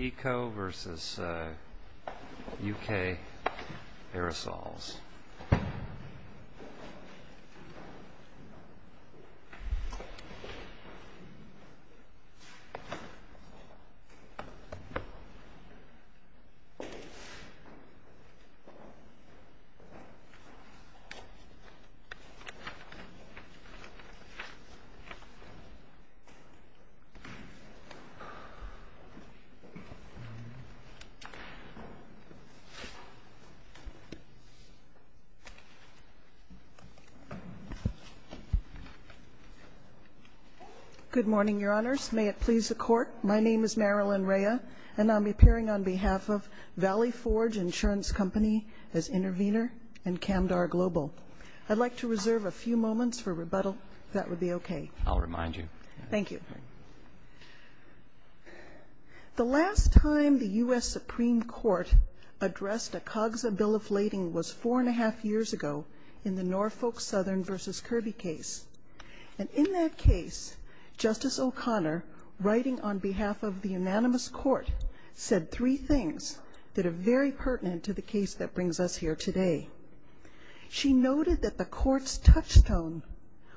Eco. v. U.K. Aerosols. Good morning, Your Honors. May it please the Court, my name is Marilyn Rea, and I'm appearing on behalf of Valley Forge Insurance Company as intervener and Camdar Global. I'd like to reserve a few moments for rebuttal, if that would be okay. I'll remind you. Thank you. The last time the U.S. Supreme Court addressed a COGSA bill of lading was four and a half years ago in the Norfolk Southern v. Kirby case. And in that case, Justice O'Connor, writing on behalf of the unanimous Court, said three things that are very pertinent to the case that brings us here today. She noted that the Court's touchstone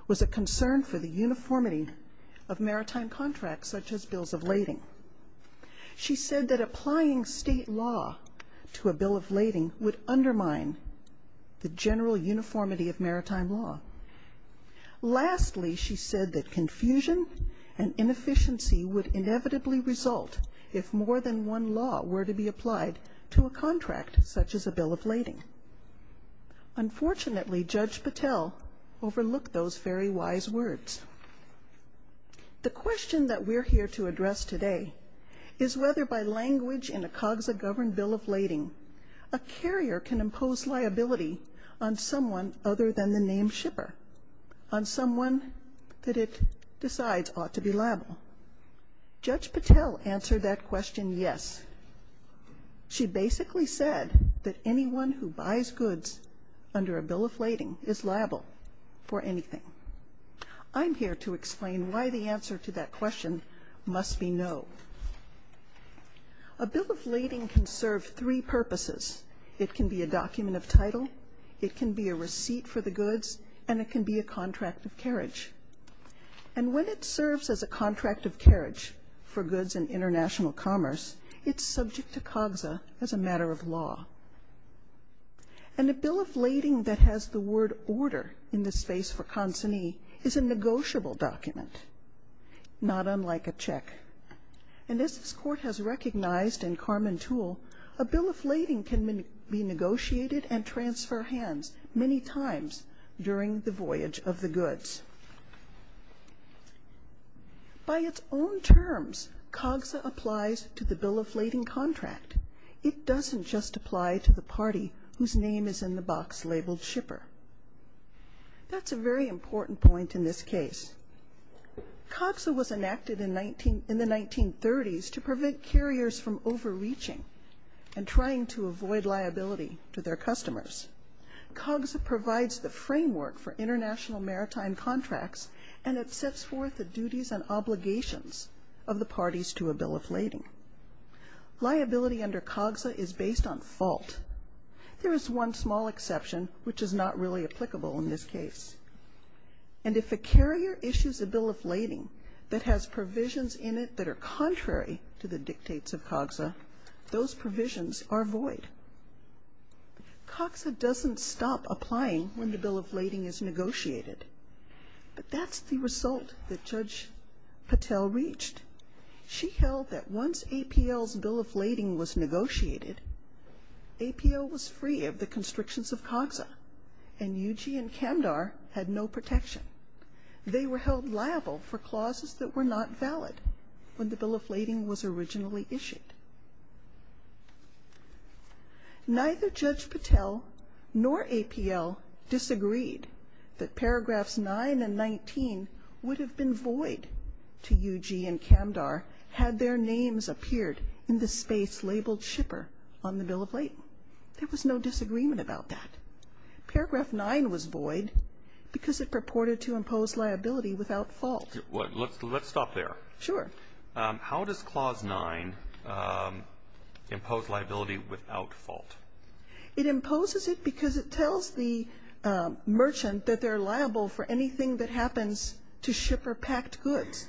was a concern for the uniformity of maritime contracts such as bills of lading. She said that applying state law to a bill of lading would undermine the general uniformity of maritime law. Lastly, she said that confusion and inefficiency would inevitably result if more than one law were to be applied to a contract such as a bill of lading. Unfortunately, Judge Patel overlooked those very wise words. The question that we're here to address today is whether by language in a COGSA-governed bill of lading, a carrier can impose liability on someone other than the named shipper, on someone that it decides ought to be liable. Judge Patel answered that question, yes. She I'm here to explain why the answer to that question must be no. A bill of lading can serve three purposes. It can be a document of title, it can be a receipt for the goods, and it can be a contract of carriage. And when it serves as a contract of carriage for goods in international commerce, it's subject to COGSA as a matter of law. And a bill of lading, a consignee, is a negotiable document, not unlike a check. And as this Court has recognized in Carman Toole, a bill of lading can be negotiated and transfer hands many times during the voyage of the goods. By its own terms, COGSA applies to the bill of lading contract. It doesn't just apply to the party whose name is in the box labeled shipper. That's a very important point in this case. COGSA was enacted in the 1930s to prevent carriers from overreaching and trying to avoid liability to their customers. COGSA provides the framework for international maritime contracts and it sets forth the duties and obligations of the parties to a bill of There is one small exception, which is not really applicable in this case. And if a carrier issues a bill of lading that has provisions in it that are contrary to the dictates of COGSA, those provisions are void. COGSA doesn't stop applying when the bill of lading is negotiated, but that's the result that Judge Patel reached. She held that once APL's bill of lading was approved, APL was free of the constrictions of COGSA and UG and Camdar had no protection. They were held liable for clauses that were not valid when the bill of lading was originally issued. Neither Judge Patel nor APL disagreed that paragraphs 9 and 19 would have been void to impose liability without fault. Let's stop there. How does clause 9 impose liability without fault? It imposes it because it tells the merchant that they're liable for anything that happens to ship or packed goods.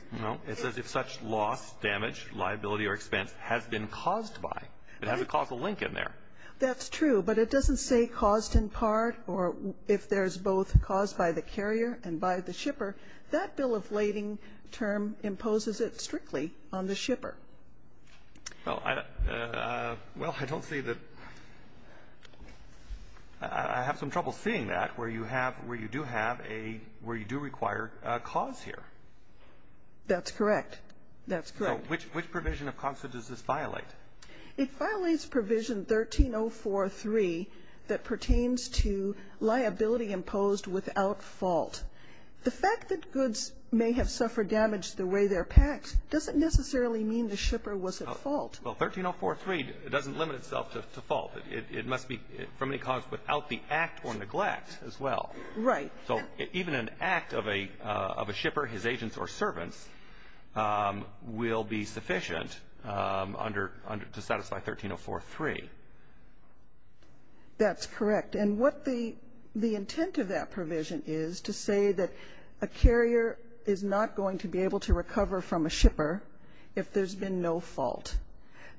It says if such loss, damage, liability or expense has been caused by. It has a causal link in there. That's true, but it doesn't say caused in part or if there's both caused by the carrier and by the shipper. That bill of lading term imposes it strictly on the shipper. Well, I don't see that. I have some trouble seeing that where you have, where you do have a, where you do require a cause here. That's correct. That's correct. So which provision of COGSA does this violate? It violates provision 13043 that pertains to liability imposed without fault. The fact that goods may have suffered damage the way they're packed doesn't necessarily mean the shipper was at fault. Well, 13043 doesn't limit itself to fault. It must be from any cause without the act or neglect as well. Right. So even an act of a shipper, his agents or servants will be sufficient to satisfy 13043. That's correct. And what the intent of that provision is to say that a carrier is not going to be able to recover from a shipper if there's been no fault.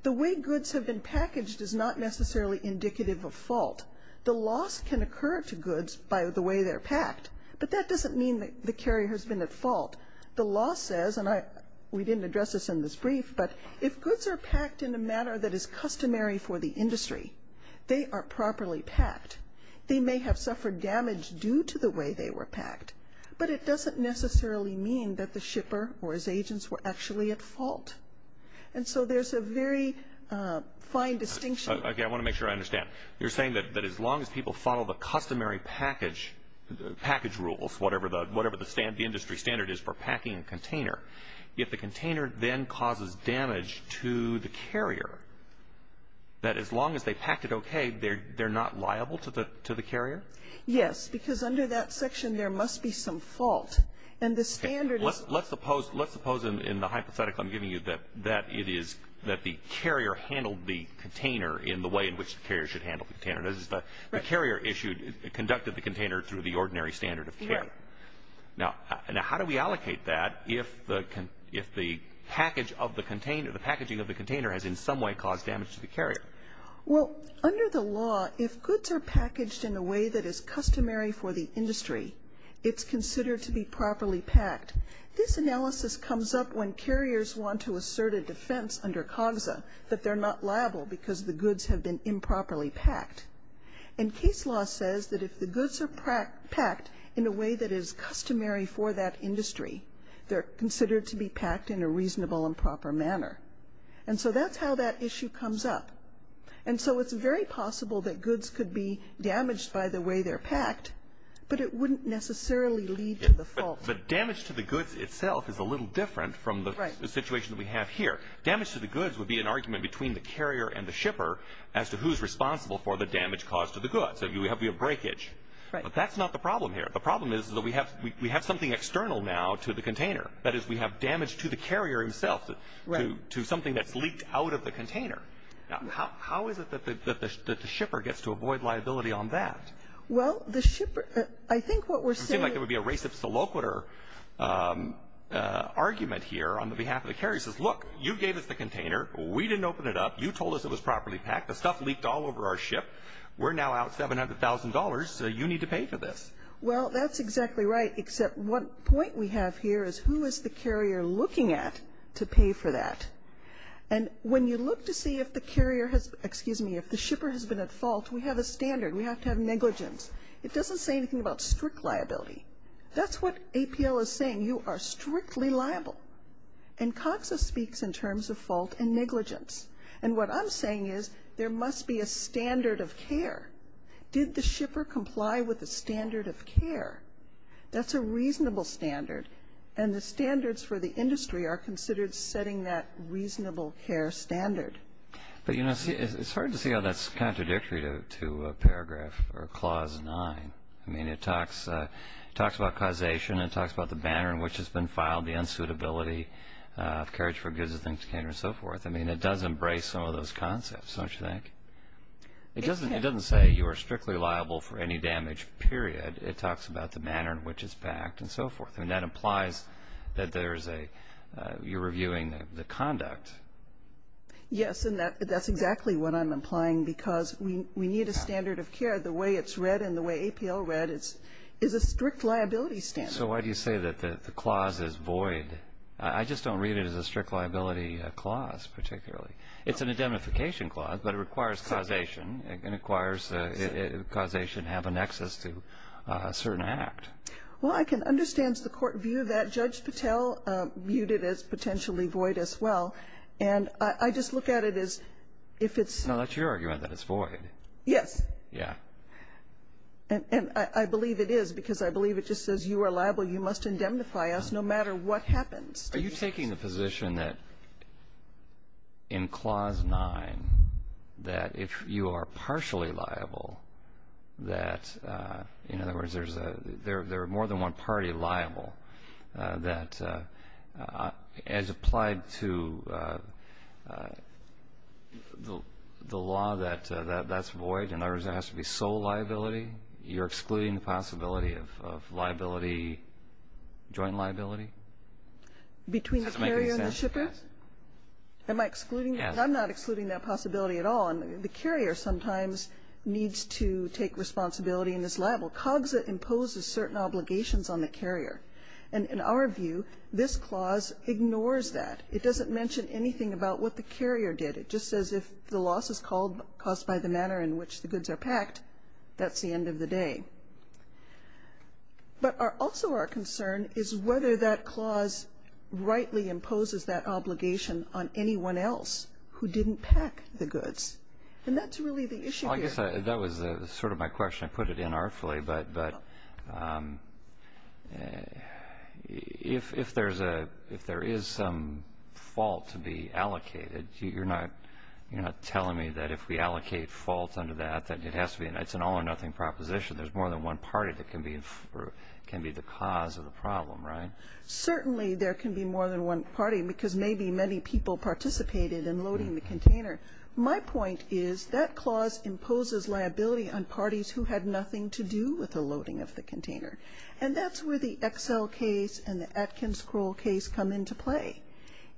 The way goods have been packaged is not necessarily indicative of fault. The loss can occur to goods by the way they're packed, but that doesn't mean the carrier has been at fault. The law says, and we didn't address this in this brief, but if goods are packed in a manner that is customary for the industry, they are properly packed. They may have suffered damage due to the way they were packed, but it doesn't necessarily mean that the shipper or his agents were actually at fault. And so there's a very fine distinction. Okay. I want to make sure I understand. You're saying that as long as people follow the customary package rules, whatever the industry standard is for packing a container, if the container then causes damage to the carrier, that as long as they packed it okay, they're not liable to the carrier? Yes. Because under that section there must be some fault. And the standard is Okay. Let's suppose in the hypothetical I'm giving you that the carrier handled the container in the way in which the carrier should handle the container. The carrier issued, conducted the container through the ordinary standard of care. Right. Now, how do we allocate that if the packaging of the container has in some way caused damage to the carrier? Well, under the law, if goods are packaged in a way that is customary for the industry, it's considered to be properly packed. This analysis comes up when carriers want to assert a defense under COGSA that they're not liable because the goods have been improperly packed. And case law says that if the goods are packed in a way that is customary for that industry, they're considered to be packed in a reasonable and proper manner. And so that's how that issue comes up. And so it's very possible that goods could be damaged by the way they're packed, but it wouldn't necessarily lead to the fault. But damage to the goods itself is a little different from the situation we have here. Right. Damage to the goods would be an argument between the carrier and the shipper as to who's responsible for the damage caused to the goods. So we have a breakage. Right. But that's not the problem here. The problem is that we have something external now to the container. That is, we have damage to the carrier himself, to something that's leaked out of the container. Now, how is it that the shipper gets to avoid liability on that? Well, the shipper, I think what we're saying... It would seem like there would be a race of soloquiter argument here on the behalf of the carrier. The carrier says, look, you gave us the container. We didn't open it up. You told us it was properly packed. The stuff leaked all over our ship. We're now out $700,000, so you need to pay for this. Well, that's exactly right, except one point we have here is who is the carrier looking at to pay for that? And when you look to see if the carrier has, excuse me, if the shipper has been at fault, we have a standard. We have to have negligence. It doesn't say anything about strict liability. That's what APL is saying. You are strictly liable. And COXA speaks in terms of fault and negligence. And what I'm saying is there must be a standard of care. Did the shipper comply with the standard of care? That's a reasonable standard. And the standards for the industry are considered setting that reasonable care standard. But, you know, it's hard to see how that's contradictory to Paragraph or Clause 9. I mean, it talks about causation. It talks about the manner in which it's been filed, the unsuitability of carriage for goods and things of that nature, and so forth. I mean, it does embrace some of those concepts, don't you think? It doesn't say you are strictly liable for any damage, period. It talks about the manner in which it's backed and so forth. And that implies that you're reviewing the conduct. Yes, and that's exactly what I'm implying because we need a standard of care. The way it's read and the way APL read is a strict liability standard. So why do you say that the clause is void? I just don't read it as a strict liability clause particularly. It's an indemnification clause, but it requires causation. It requires causation to have an excess to a certain act. Well, I can understand the court view that Judge Patel viewed it as potentially void as well. And I just look at it as if it's not. That's your argument that it's void. Yes. Yeah. And I believe it is because I believe it just says you are liable, you must indemnify us no matter what happens. Are you taking the position that in Clause 9 that if you are partially liable that, in other words, there are more than one party liable, that as applied to the law that that's void, in other words, there has to be sole liability, you're excluding the possibility of liability, joint liability? Between the carrier and the shipper? Does that make any sense? Yes. Am I excluding? Yes. I'm not excluding that possibility at all. The carrier sometimes needs to take responsibility and is liable. COGSA imposes certain obligations on the carrier. And in our view, this clause ignores that. It doesn't mention anything about what the carrier did. It just says if the loss is caused by the manner in which the goods are packed, that's the end of the day. But also our concern is whether that clause rightly imposes that obligation on anyone else who didn't pack the goods. And that's really the issue here. Well, I guess that was sort of my question. I put it in artfully. But if there is some fault to be allocated, you're not telling me that if we allocate fault under that, that it has to be an all-or-nothing proposition, there's more than one party that can be the cause of the problem, right? Certainly there can be more than one party because maybe many people participated in loading the container. My point is that clause imposes liability on parties who had nothing to do with the loading of the container. And that's where the Excel case and the Atkins scroll case come into play.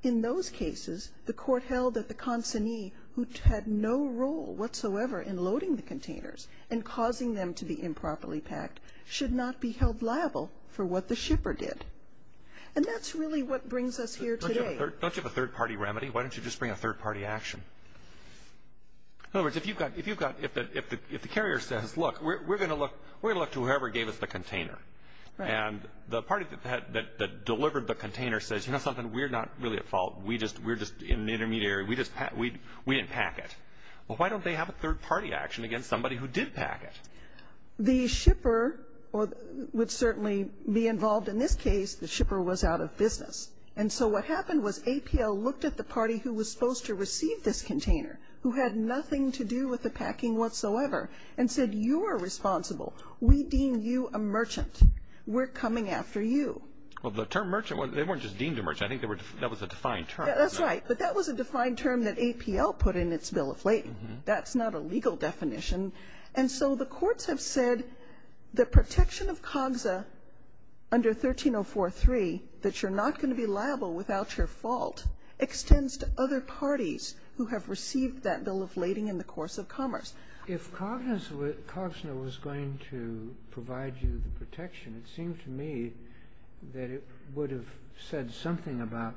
In those cases, the court held that the consignee who had no role whatsoever in loading the containers and causing them to be improperly packed should not be held liable for what the shipper did. And that's really what brings us here today. Don't you have a third-party remedy? Why don't you just bring a third-party action? In other words, if the carrier says, look, we're going to look to whoever gave us the container, and the party that delivered the container says, you know something, we're not really at fault. We're just in an intermediate area. We didn't pack it. Well, why don't they have a third-party action against somebody who did pack it? The shipper would certainly be involved in this case. The shipper was out of business. And so what happened was APL looked at the party who was supposed to receive this container, who had nothing to do with the packing whatsoever, and said, you're responsible. We deem you a merchant. We're coming after you. Well, the term merchant, they weren't just deemed a merchant. I think that was a defined term. That's right. But that was a defined term that APL put in its bill of lading. That's not a legal definition. And so the courts have said the protection of COGSA under 13043, that you're not going to be liable without your fault, extends to other parties who have received that bill of lading in the course of commerce. If COGSNA was going to provide you the protection, it seemed to me that it would have said something about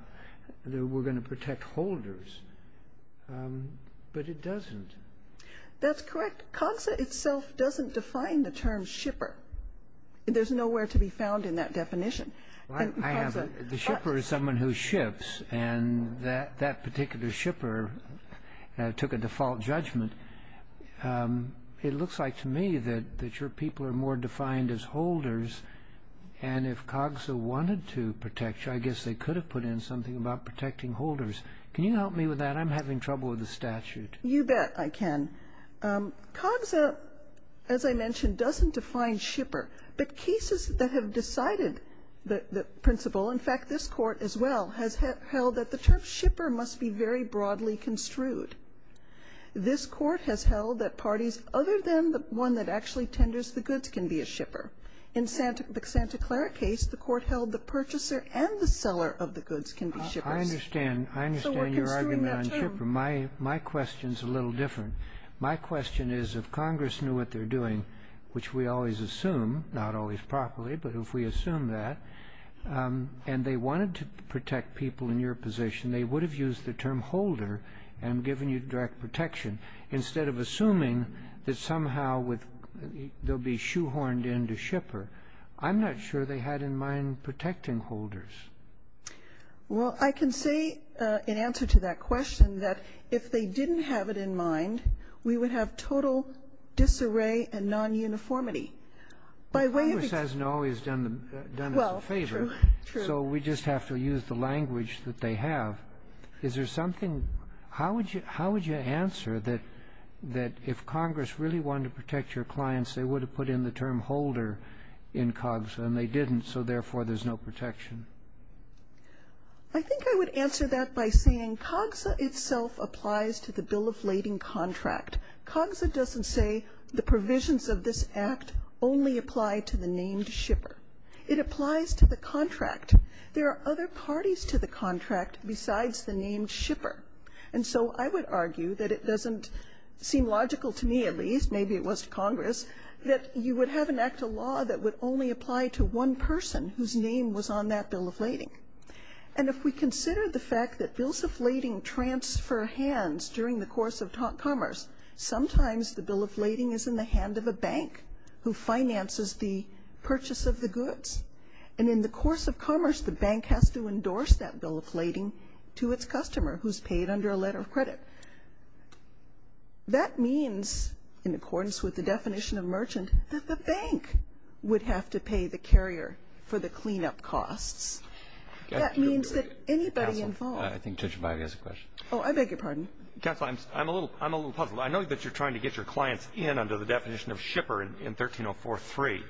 that we're going to protect holders. But it doesn't. That's correct. COGSA itself doesn't define the term shipper. There's nowhere to be found in that definition. I have. The shipper is someone who ships, and that particular shipper took a default judgment. It looks like to me that your people are more defined as holders, and if COGSA wanted to protect you, I guess they could have put in something about protecting holders. Can you help me with that? I'm having trouble with the statute. You bet I can. COGSA, as I mentioned, doesn't define shipper. But cases that have decided the principle, in fact, this Court as well, has held that the term shipper must be very broadly construed. This Court has held that parties other than the one that actually tenders the goods can be a shipper. In the Santa Clara case, the Court held the purchaser and the seller of the goods can be shippers. So we're construing that term. My question is a little different. My question is if Congress knew what they're doing, which we always assume, not always properly, but if we assume that, and they wanted to protect people in your position, they would have used the term holder and given you direct protection. Instead of assuming that somehow they'll be shoehorned into shipper, I'm not sure they had in mind protecting holders. Well, I can say in answer to that question that if they didn't have it in mind, we would have total disarray and non-uniformity. But Congress hasn't always done us a favor. Well, true. So we just have to use the language that they have. Is there something? How would you answer that if Congress really wanted to protect your clients, they would have put in the term holder in COGSA and they didn't, so therefore there's no protection? I think I would answer that by saying COGSA itself applies to the bill of lading contract. COGSA doesn't say the provisions of this act only apply to the named shipper. It applies to the contract. There are other parties to the contract besides the named shipper. And so I would argue that it doesn't seem logical to me at least, maybe it was to Congress, that you would have an act of law that would only apply to one person whose name was on that bill of lading. And if we consider the fact that bills of lading transfer hands during the course of commerce, sometimes the bill of lading is in the hand of a bank who finances the purchase of the goods. And in the course of commerce, the bank has to endorse that bill of lading to its customer who's paid under a letter of credit. That means, in accordance with the definition of merchant, that the bank would have to pay the carrier for the cleanup costs. That means that anybody involved. Counsel, I think Judge Bide has a question. Oh, I beg your pardon. Counsel, I'm a little puzzled. I know that you're trying to get your clients in under the definition of shipper in 1304.3,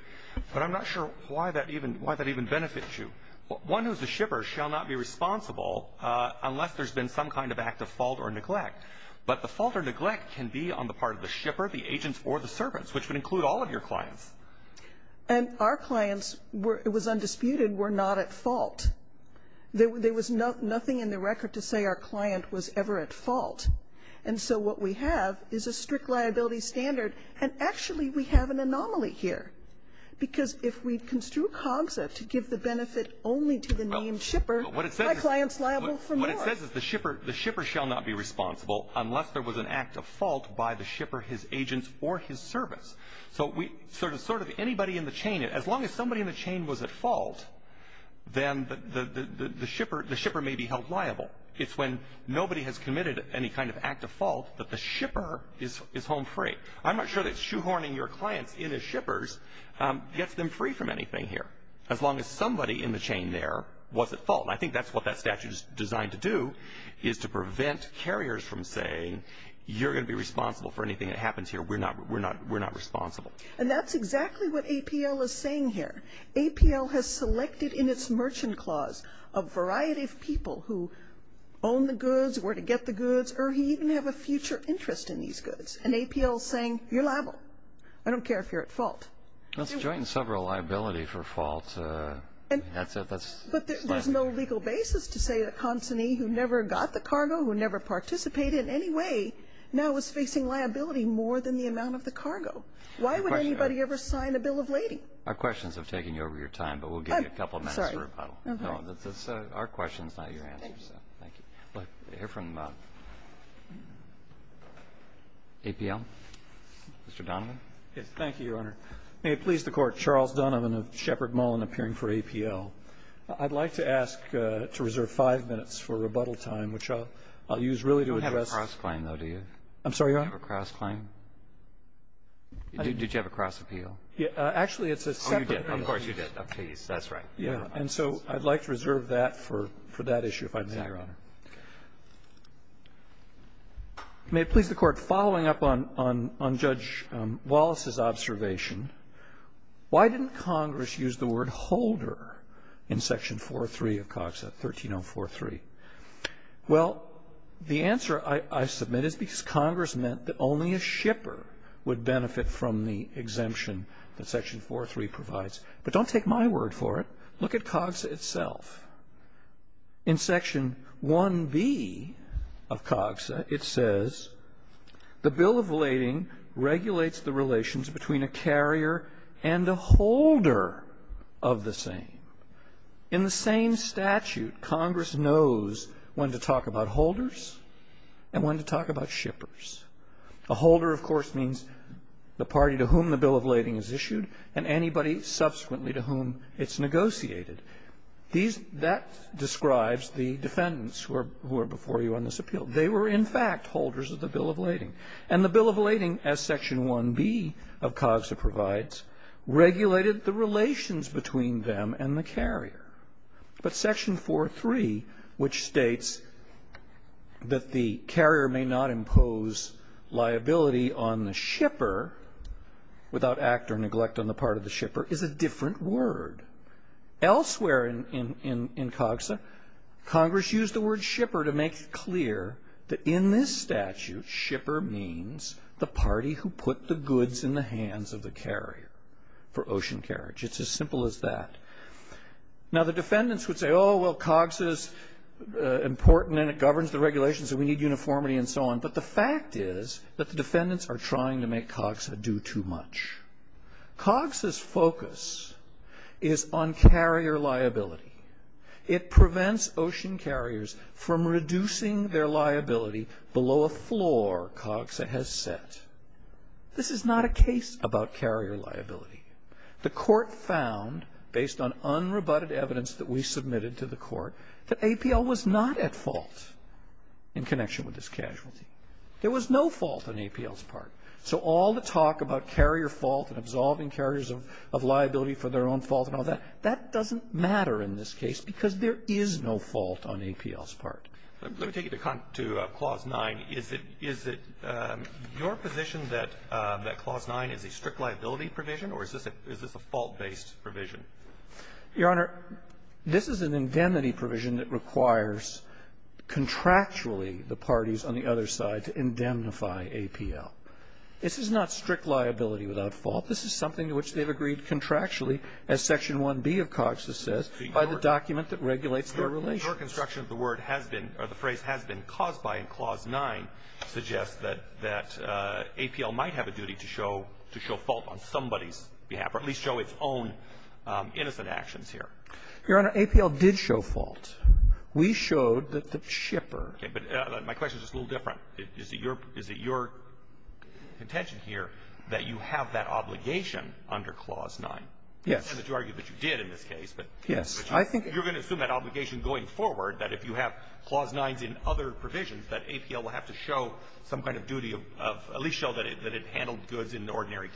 but I'm not sure why that even benefits you. One who's a shipper shall not be responsible unless there's been some kind of act of fault or neglect. But the fault or neglect can be on the part of the shipper, the agents, or the servants, which would include all of your clients. And our clients, it was undisputed, were not at fault. There was nothing in the record to say our client was ever at fault. And so what we have is a strict liability standard. And actually, we have an anomaly here. Because if we construe COGSA to give the benefit only to the named shipper, my client's liable for more. What it says is the shipper shall not be responsible unless there was an act of fault by the shipper, his agents, or his servants. So we sort of anybody in the chain, as long as somebody in the chain was at fault, then the shipper may be held liable. It's when nobody has committed any kind of act of fault that the shipper is home free. I'm not sure that shoehorning your clients in as shippers gets them free from anything here, as long as somebody in the chain there was at fault. And I think that's what that statute is designed to do, is to prevent carriers from saying, you're going to be responsible for anything that happens here. We're not responsible. And that's exactly what APL is saying here. APL has selected in its merchant clause a variety of people who own the goods, and APL is saying, you're liable. I don't care if you're at fault. Let's join several liability for fault. That's it. But there's no legal basis to say that a consignee who never got the cargo, who never participated in any way, now is facing liability more than the amount of the cargo. Why would anybody ever sign a bill of lading? Our questions have taken you over your time, but we'll give you a couple minutes for rebuttal. Our question is not your answer. Thank you. I'd like to hear from APL. Mr. Donovan. Thank you, Your Honor. May it please the Court. Charles Donovan of Shepard Mullin, appearing for APL. I'd like to ask to reserve five minutes for rebuttal time, which I'll use really to address. You don't have a cross-claim, though, do you? I'm sorry, Your Honor? You don't have a cross-claim? Did you have a cross-appeal? Actually, it's a separate thing. Oh, you did. Of course you did. That's right. Yeah, and so I'd like to reserve that for that issue, if I may. Yes, Your Honor. May it please the Court. Following up on Judge Wallace's observation, why didn't Congress use the word holder in Section 4.3 of COGSA, 13043? Well, the answer, I submit, is because Congress meant that only a shipper would benefit from the exemption that Section 4.3 provides. But don't take my word for it. Look at COGSA itself. In Section 1B of COGSA, it says, The Bill of Lading regulates the relations between a carrier and a holder of the same. In the same statute, Congress knows when to talk about holders and when to talk about shippers. A holder, of course, means the party to whom the Bill of Lading is issued, and anybody subsequently to whom it's negotiated. These that describes the defendants who are before you on this appeal. They were, in fact, holders of the Bill of Lading. And the Bill of Lading, as Section 1B of COGSA provides, regulated the relations between them and the carrier. But Section 4.3, which states that the carrier may not impose liability on the shipper without act or neglect on the part of the shipper, is a different word. Elsewhere in COGSA, Congress used the word shipper to make it clear that in this statute, shipper means the party who put the goods in the hands of the carrier for ocean carriage. It's as simple as that. Now, the defendants would say, oh, well, COGSA's important and it governs the regulations and we need uniformity and so on. But the fact is that the defendants are trying to make COGSA do too much. COGSA's focus is on carrier liability. It prevents ocean carriers from reducing their liability below a floor COGSA has set. This is not a case about carrier liability. The court found, based on unrebutted evidence that we submitted to the court, that APL was not at fault in connection with this casualty. There was no fault on APL's part. So all the talk about carrier fault and absolving carriers of liability for their own fault and all that, that doesn't matter in this case because there is no fault on APL's part. Let me take you to Clause 9. Is it your position that Clause 9 is a strict liability provision, or is this a fault-based provision? Your Honor, this is an indemnity provision that requires contractually the parties on the other side to indemnify APL. This is not strict liability without fault. This is something to which they've agreed contractually, as Section 1B of COGSA says, by the document that regulates their relations. Your construction of the word has been, or the phrase has been, caused by in Clause 9 suggests that APL might have a duty to show fault on somebody's behalf, or at least show its own innocent actions here. Your Honor, APL did show fault. We showed that the shipper ---- Okay. But my question is just a little different. Is it your intention here that you have that obligation under Clause 9? Yes. I'm not going to argue that you did in this case, but you're going to assume that obligation going forward, that if you have Clause 9s in other provisions, that APL will have to show some kind of duty of at least show that it handled goods in ordinary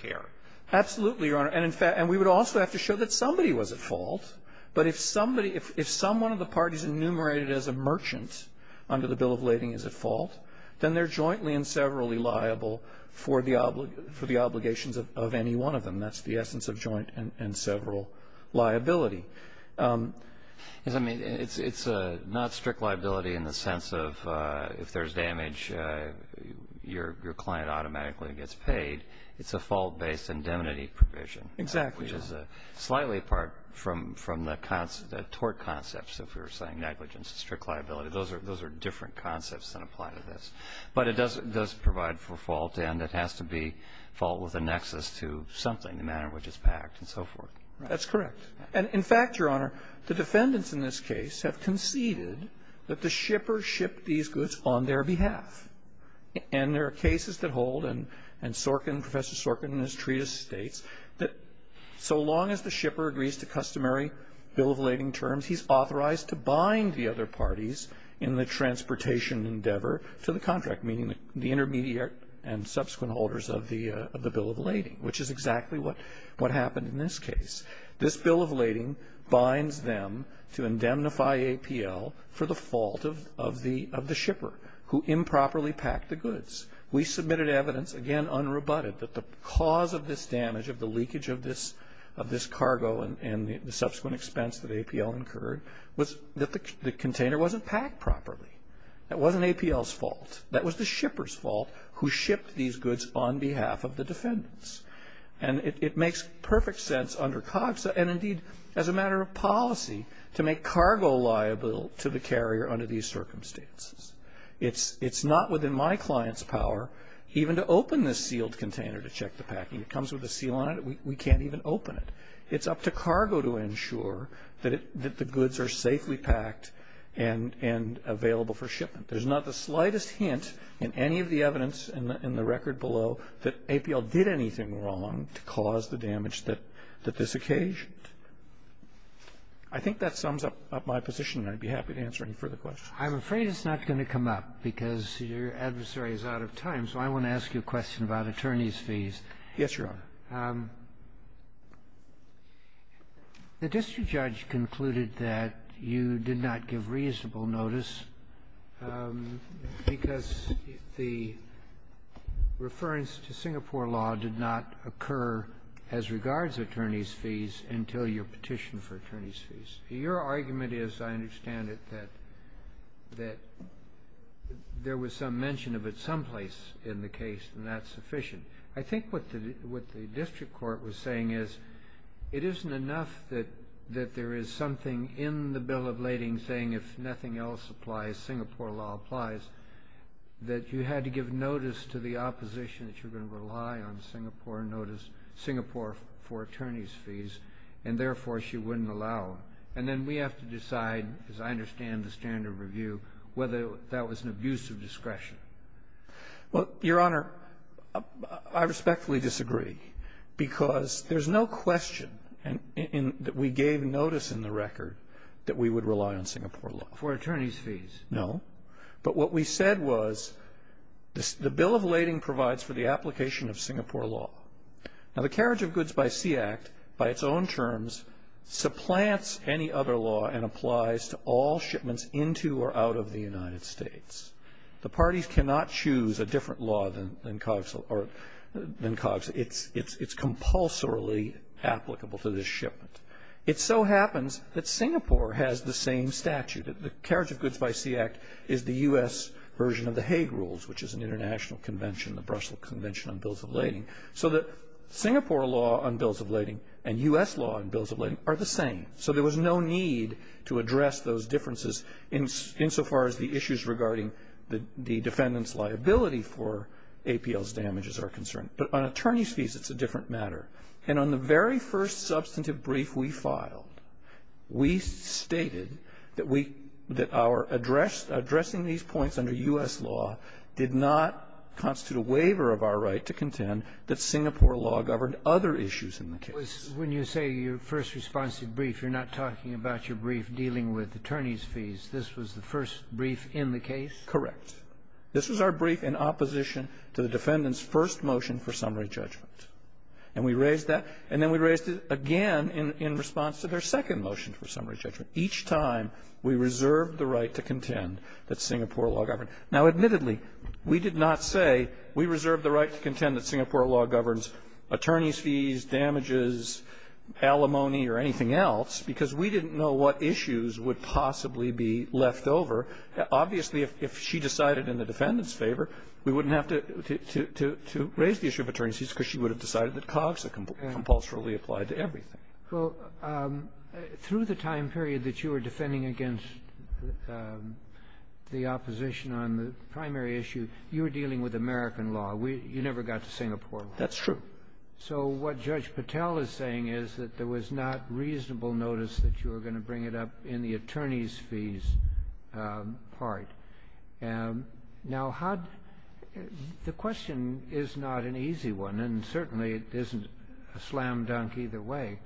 Absolutely, Your Honor. And we would also have to show that somebody was at fault. But if somebody, if someone of the parties enumerated as a merchant under the Bill of Lading is at fault, then they're jointly and severally liable for the obligations of any one of them. That's the essence of joint and several liability. Yes, I mean, it's not strict liability in the sense of if there's damage, your client automatically gets paid. It's a fault-based indemnity provision. Exactly. Which is slightly apart from the tort concepts, if you're saying negligence and strict liability. Those are different concepts that apply to this. But it does provide for fault, and it has to be fault with a nexus to something, the manner in which it's packed and so forth. That's correct. And, in fact, Your Honor, the defendants in this case have conceded that the shipper shipped these goods on their behalf. And there are cases that hold, and Professor Sorkin in his treatise states, that so long as the shipper agrees to customary Bill of Lading terms, he's authorized to bind the other parties in the transportation endeavor to the contract, meaning the intermediate and subsequent holders of the Bill of Lading, which is exactly what happened in this case. This Bill of Lading binds them to indemnify APL for the fault of the shipper, who improperly packed the goods. We submitted evidence, again, unrebutted, that the cause of this damage, of the leakage of this cargo and the subsequent expense that APL incurred, was that the container wasn't packed properly. That wasn't APL's fault. That was the shipper's fault, who shipped these goods on behalf of the defendants. And it makes perfect sense under COGSA and, indeed, as a matter of policy, to make cargo liable to the carrier under these circumstances. It's not within my client's power even to open this sealed container to check the packing. It comes with a seal on it. We can't even open it. It's up to cargo to ensure that the goods are safely packed and available for shipment. There's not the slightest hint in any of the evidence in the record below that APL did anything wrong to cause the damage that this occasioned. I think that sums up my position, and I'd be happy to answer any further questions. I'm afraid it's not going to come up, because your adversary is out of time. So I want to ask you a question about attorneys' fees. Yes, Your Honor. The district judge concluded that you did not give reasonable notice because the reference to Singapore law did not occur as regards attorneys' fees until your petition for attorneys' fees. Your argument is, I understand it, that there was some mention of it someplace in the case, and that's sufficient. I think what the district court was saying is it isn't enough that there is something in the Bill of Lading saying if nothing else applies, Singapore law applies, that you had to give notice to the opposition that you're going to rely on Singapore for attorneys' fees, and therefore she wouldn't allow it. And then we have to decide, as I understand the standard review, whether that was an abuse of discretion. Well, Your Honor, I respectfully disagree, because there's no question that we gave notice in the record that we would rely on Singapore law. For attorneys' fees. No. But what we said was the Bill of Lading provides for the application of Singapore law. Now, the Carriage of Goods by Sea Act, by its own terms, supplants any other law and applies to all shipments into or out of the United States. The parties cannot choose a different law than COGS. It's compulsorily applicable to this shipment. It so happens that Singapore has the same statute. The Carriage of Goods by Sea Act is the U.S. version of the Hague Rules, which is an international convention, the Brussels Convention on Bills of Lading, so that Singapore law on Bills of Lading and U.S. law on Bills of Lading are the same. So there was no need to address those differences insofar as the issues regarding the defendant's liability for APL's damages are concerned. But on attorneys' fees, it's a different matter. And on the very first substantive brief we filed, we stated that our addressing these points under U.S. law did not constitute a waiver of our right to contend that Singapore law governed other issues in the case. When you say your first responsive brief, you're not talking about your brief dealing with attorneys' fees. This was the first brief in the case? Correct. This was our brief in opposition to the defendant's first motion for summary judgment. And we raised that. And then we raised it again in response to their second motion for summary judgment. Each time, we reserved the right to contend that Singapore law governed. Now, admittedly, we did not say we reserved the right to contend that Singapore law governs attorneys' fees, damages, alimony, or anything else, because we didn't know what issues would possibly be left over. Obviously, if she decided in the defendant's favor, we wouldn't have to raise the issue of attorneys' fees because she would have decided that COGS had compulsorily applied to everything. Well, through the time period that you were defending against the opposition on the primary issue, you were dealing with American law. You never got to Singapore law. That's true. So what Judge Patel is saying is that there was not reasonable notice that you were going to bring it up in the attorneys' fees part. Now, how do you – the question is not an easy one, and certainly it isn't a slam-dunk either way,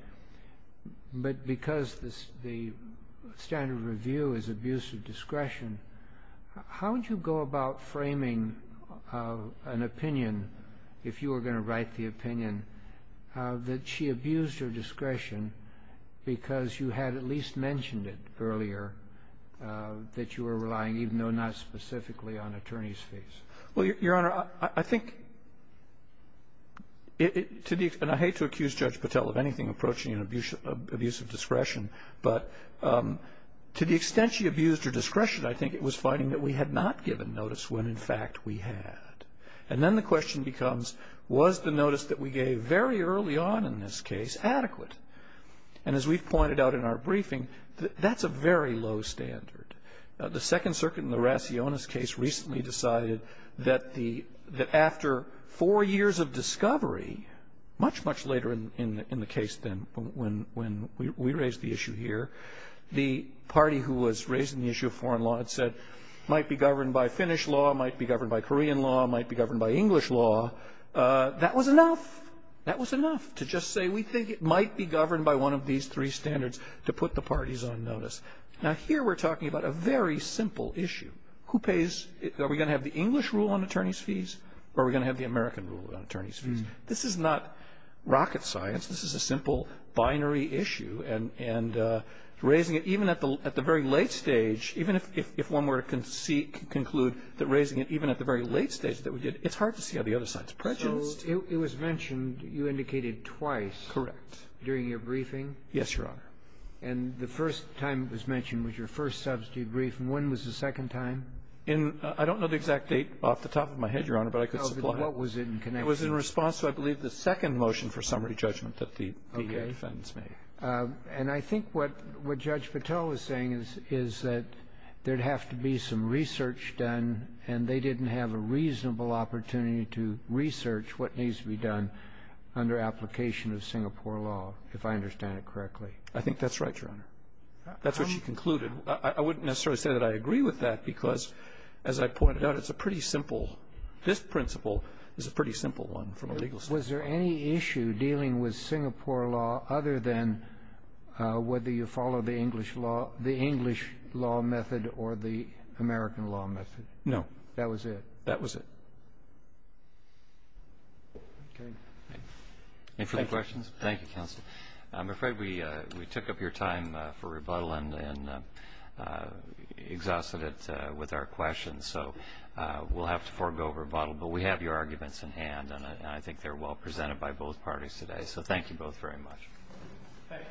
but because the standard of review is abuse of discretion, how would you go about framing an opinion, if you were going to write the opinion, that she abused her discretion because you had at least mentioned it earlier that you were relying, even though not specifically, on attorneys' fees? Well, Your Honor, I think – and I hate to accuse Judge Patel of anything approaching an abuse of discretion, but to the extent she abused her discretion, I think it was finding that we had not given notice when, in fact, we had. And then the question becomes, was the notice that we gave very early on in this case adequate? And as we've pointed out in our briefing, that's a very low standard. The Second Circuit in the Raciones case recently decided that the – that after four years of discovery, much, much later in the case than when we raised the issue here, the party who was raising the issue of foreign law had said it might be governed by Finnish law, might be governed by Korean law, might be governed by English law. That was enough. That was enough to just say we think it might be governed by one of these three Now, here we're talking about a very simple issue. Who pays – are we going to have the English rule on attorneys' fees, or are we going to have the American rule on attorneys' fees? This is not rocket science. This is a simple binary issue. And raising it even at the – at the very late stage, even if one were to concede – conclude that raising it even at the very late stage that we did, it's hard to see how the other side is prejudiced. So it was mentioned you indicated twice. Correct. During your briefing. Yes, Your Honor. And the first time it was mentioned was your first subsidy brief. And when was the second time? In – I don't know the exact date off the top of my head, Your Honor, but I could supply it. No, but what was it in connection with it? It was in response to, I believe, the second motion for summary judgment that the DEA defendants made. Okay. And I think what Judge Patel is saying is that there would have to be some research done, and they didn't have a reasonable opportunity to research what needs to be done under application of Singapore law, if I understand it correctly. I think that's right, Your Honor. That's what she concluded. I wouldn't necessarily say that I agree with that because, as I pointed out, it's a pretty simple – this principle is a pretty simple one from a legal standpoint. Was there any issue dealing with Singapore law other than whether you follow the English law – the English law method or the American law method? No. That was it? That was it. Okay. Any further questions? Thank you, Counsel. I'm afraid we took up your time for rebuttal and exhausted it with our questions, so we'll have to forego rebuttal. But we have your arguments in hand, and I think they're well presented by both parties today. So thank you both very much. Thank you.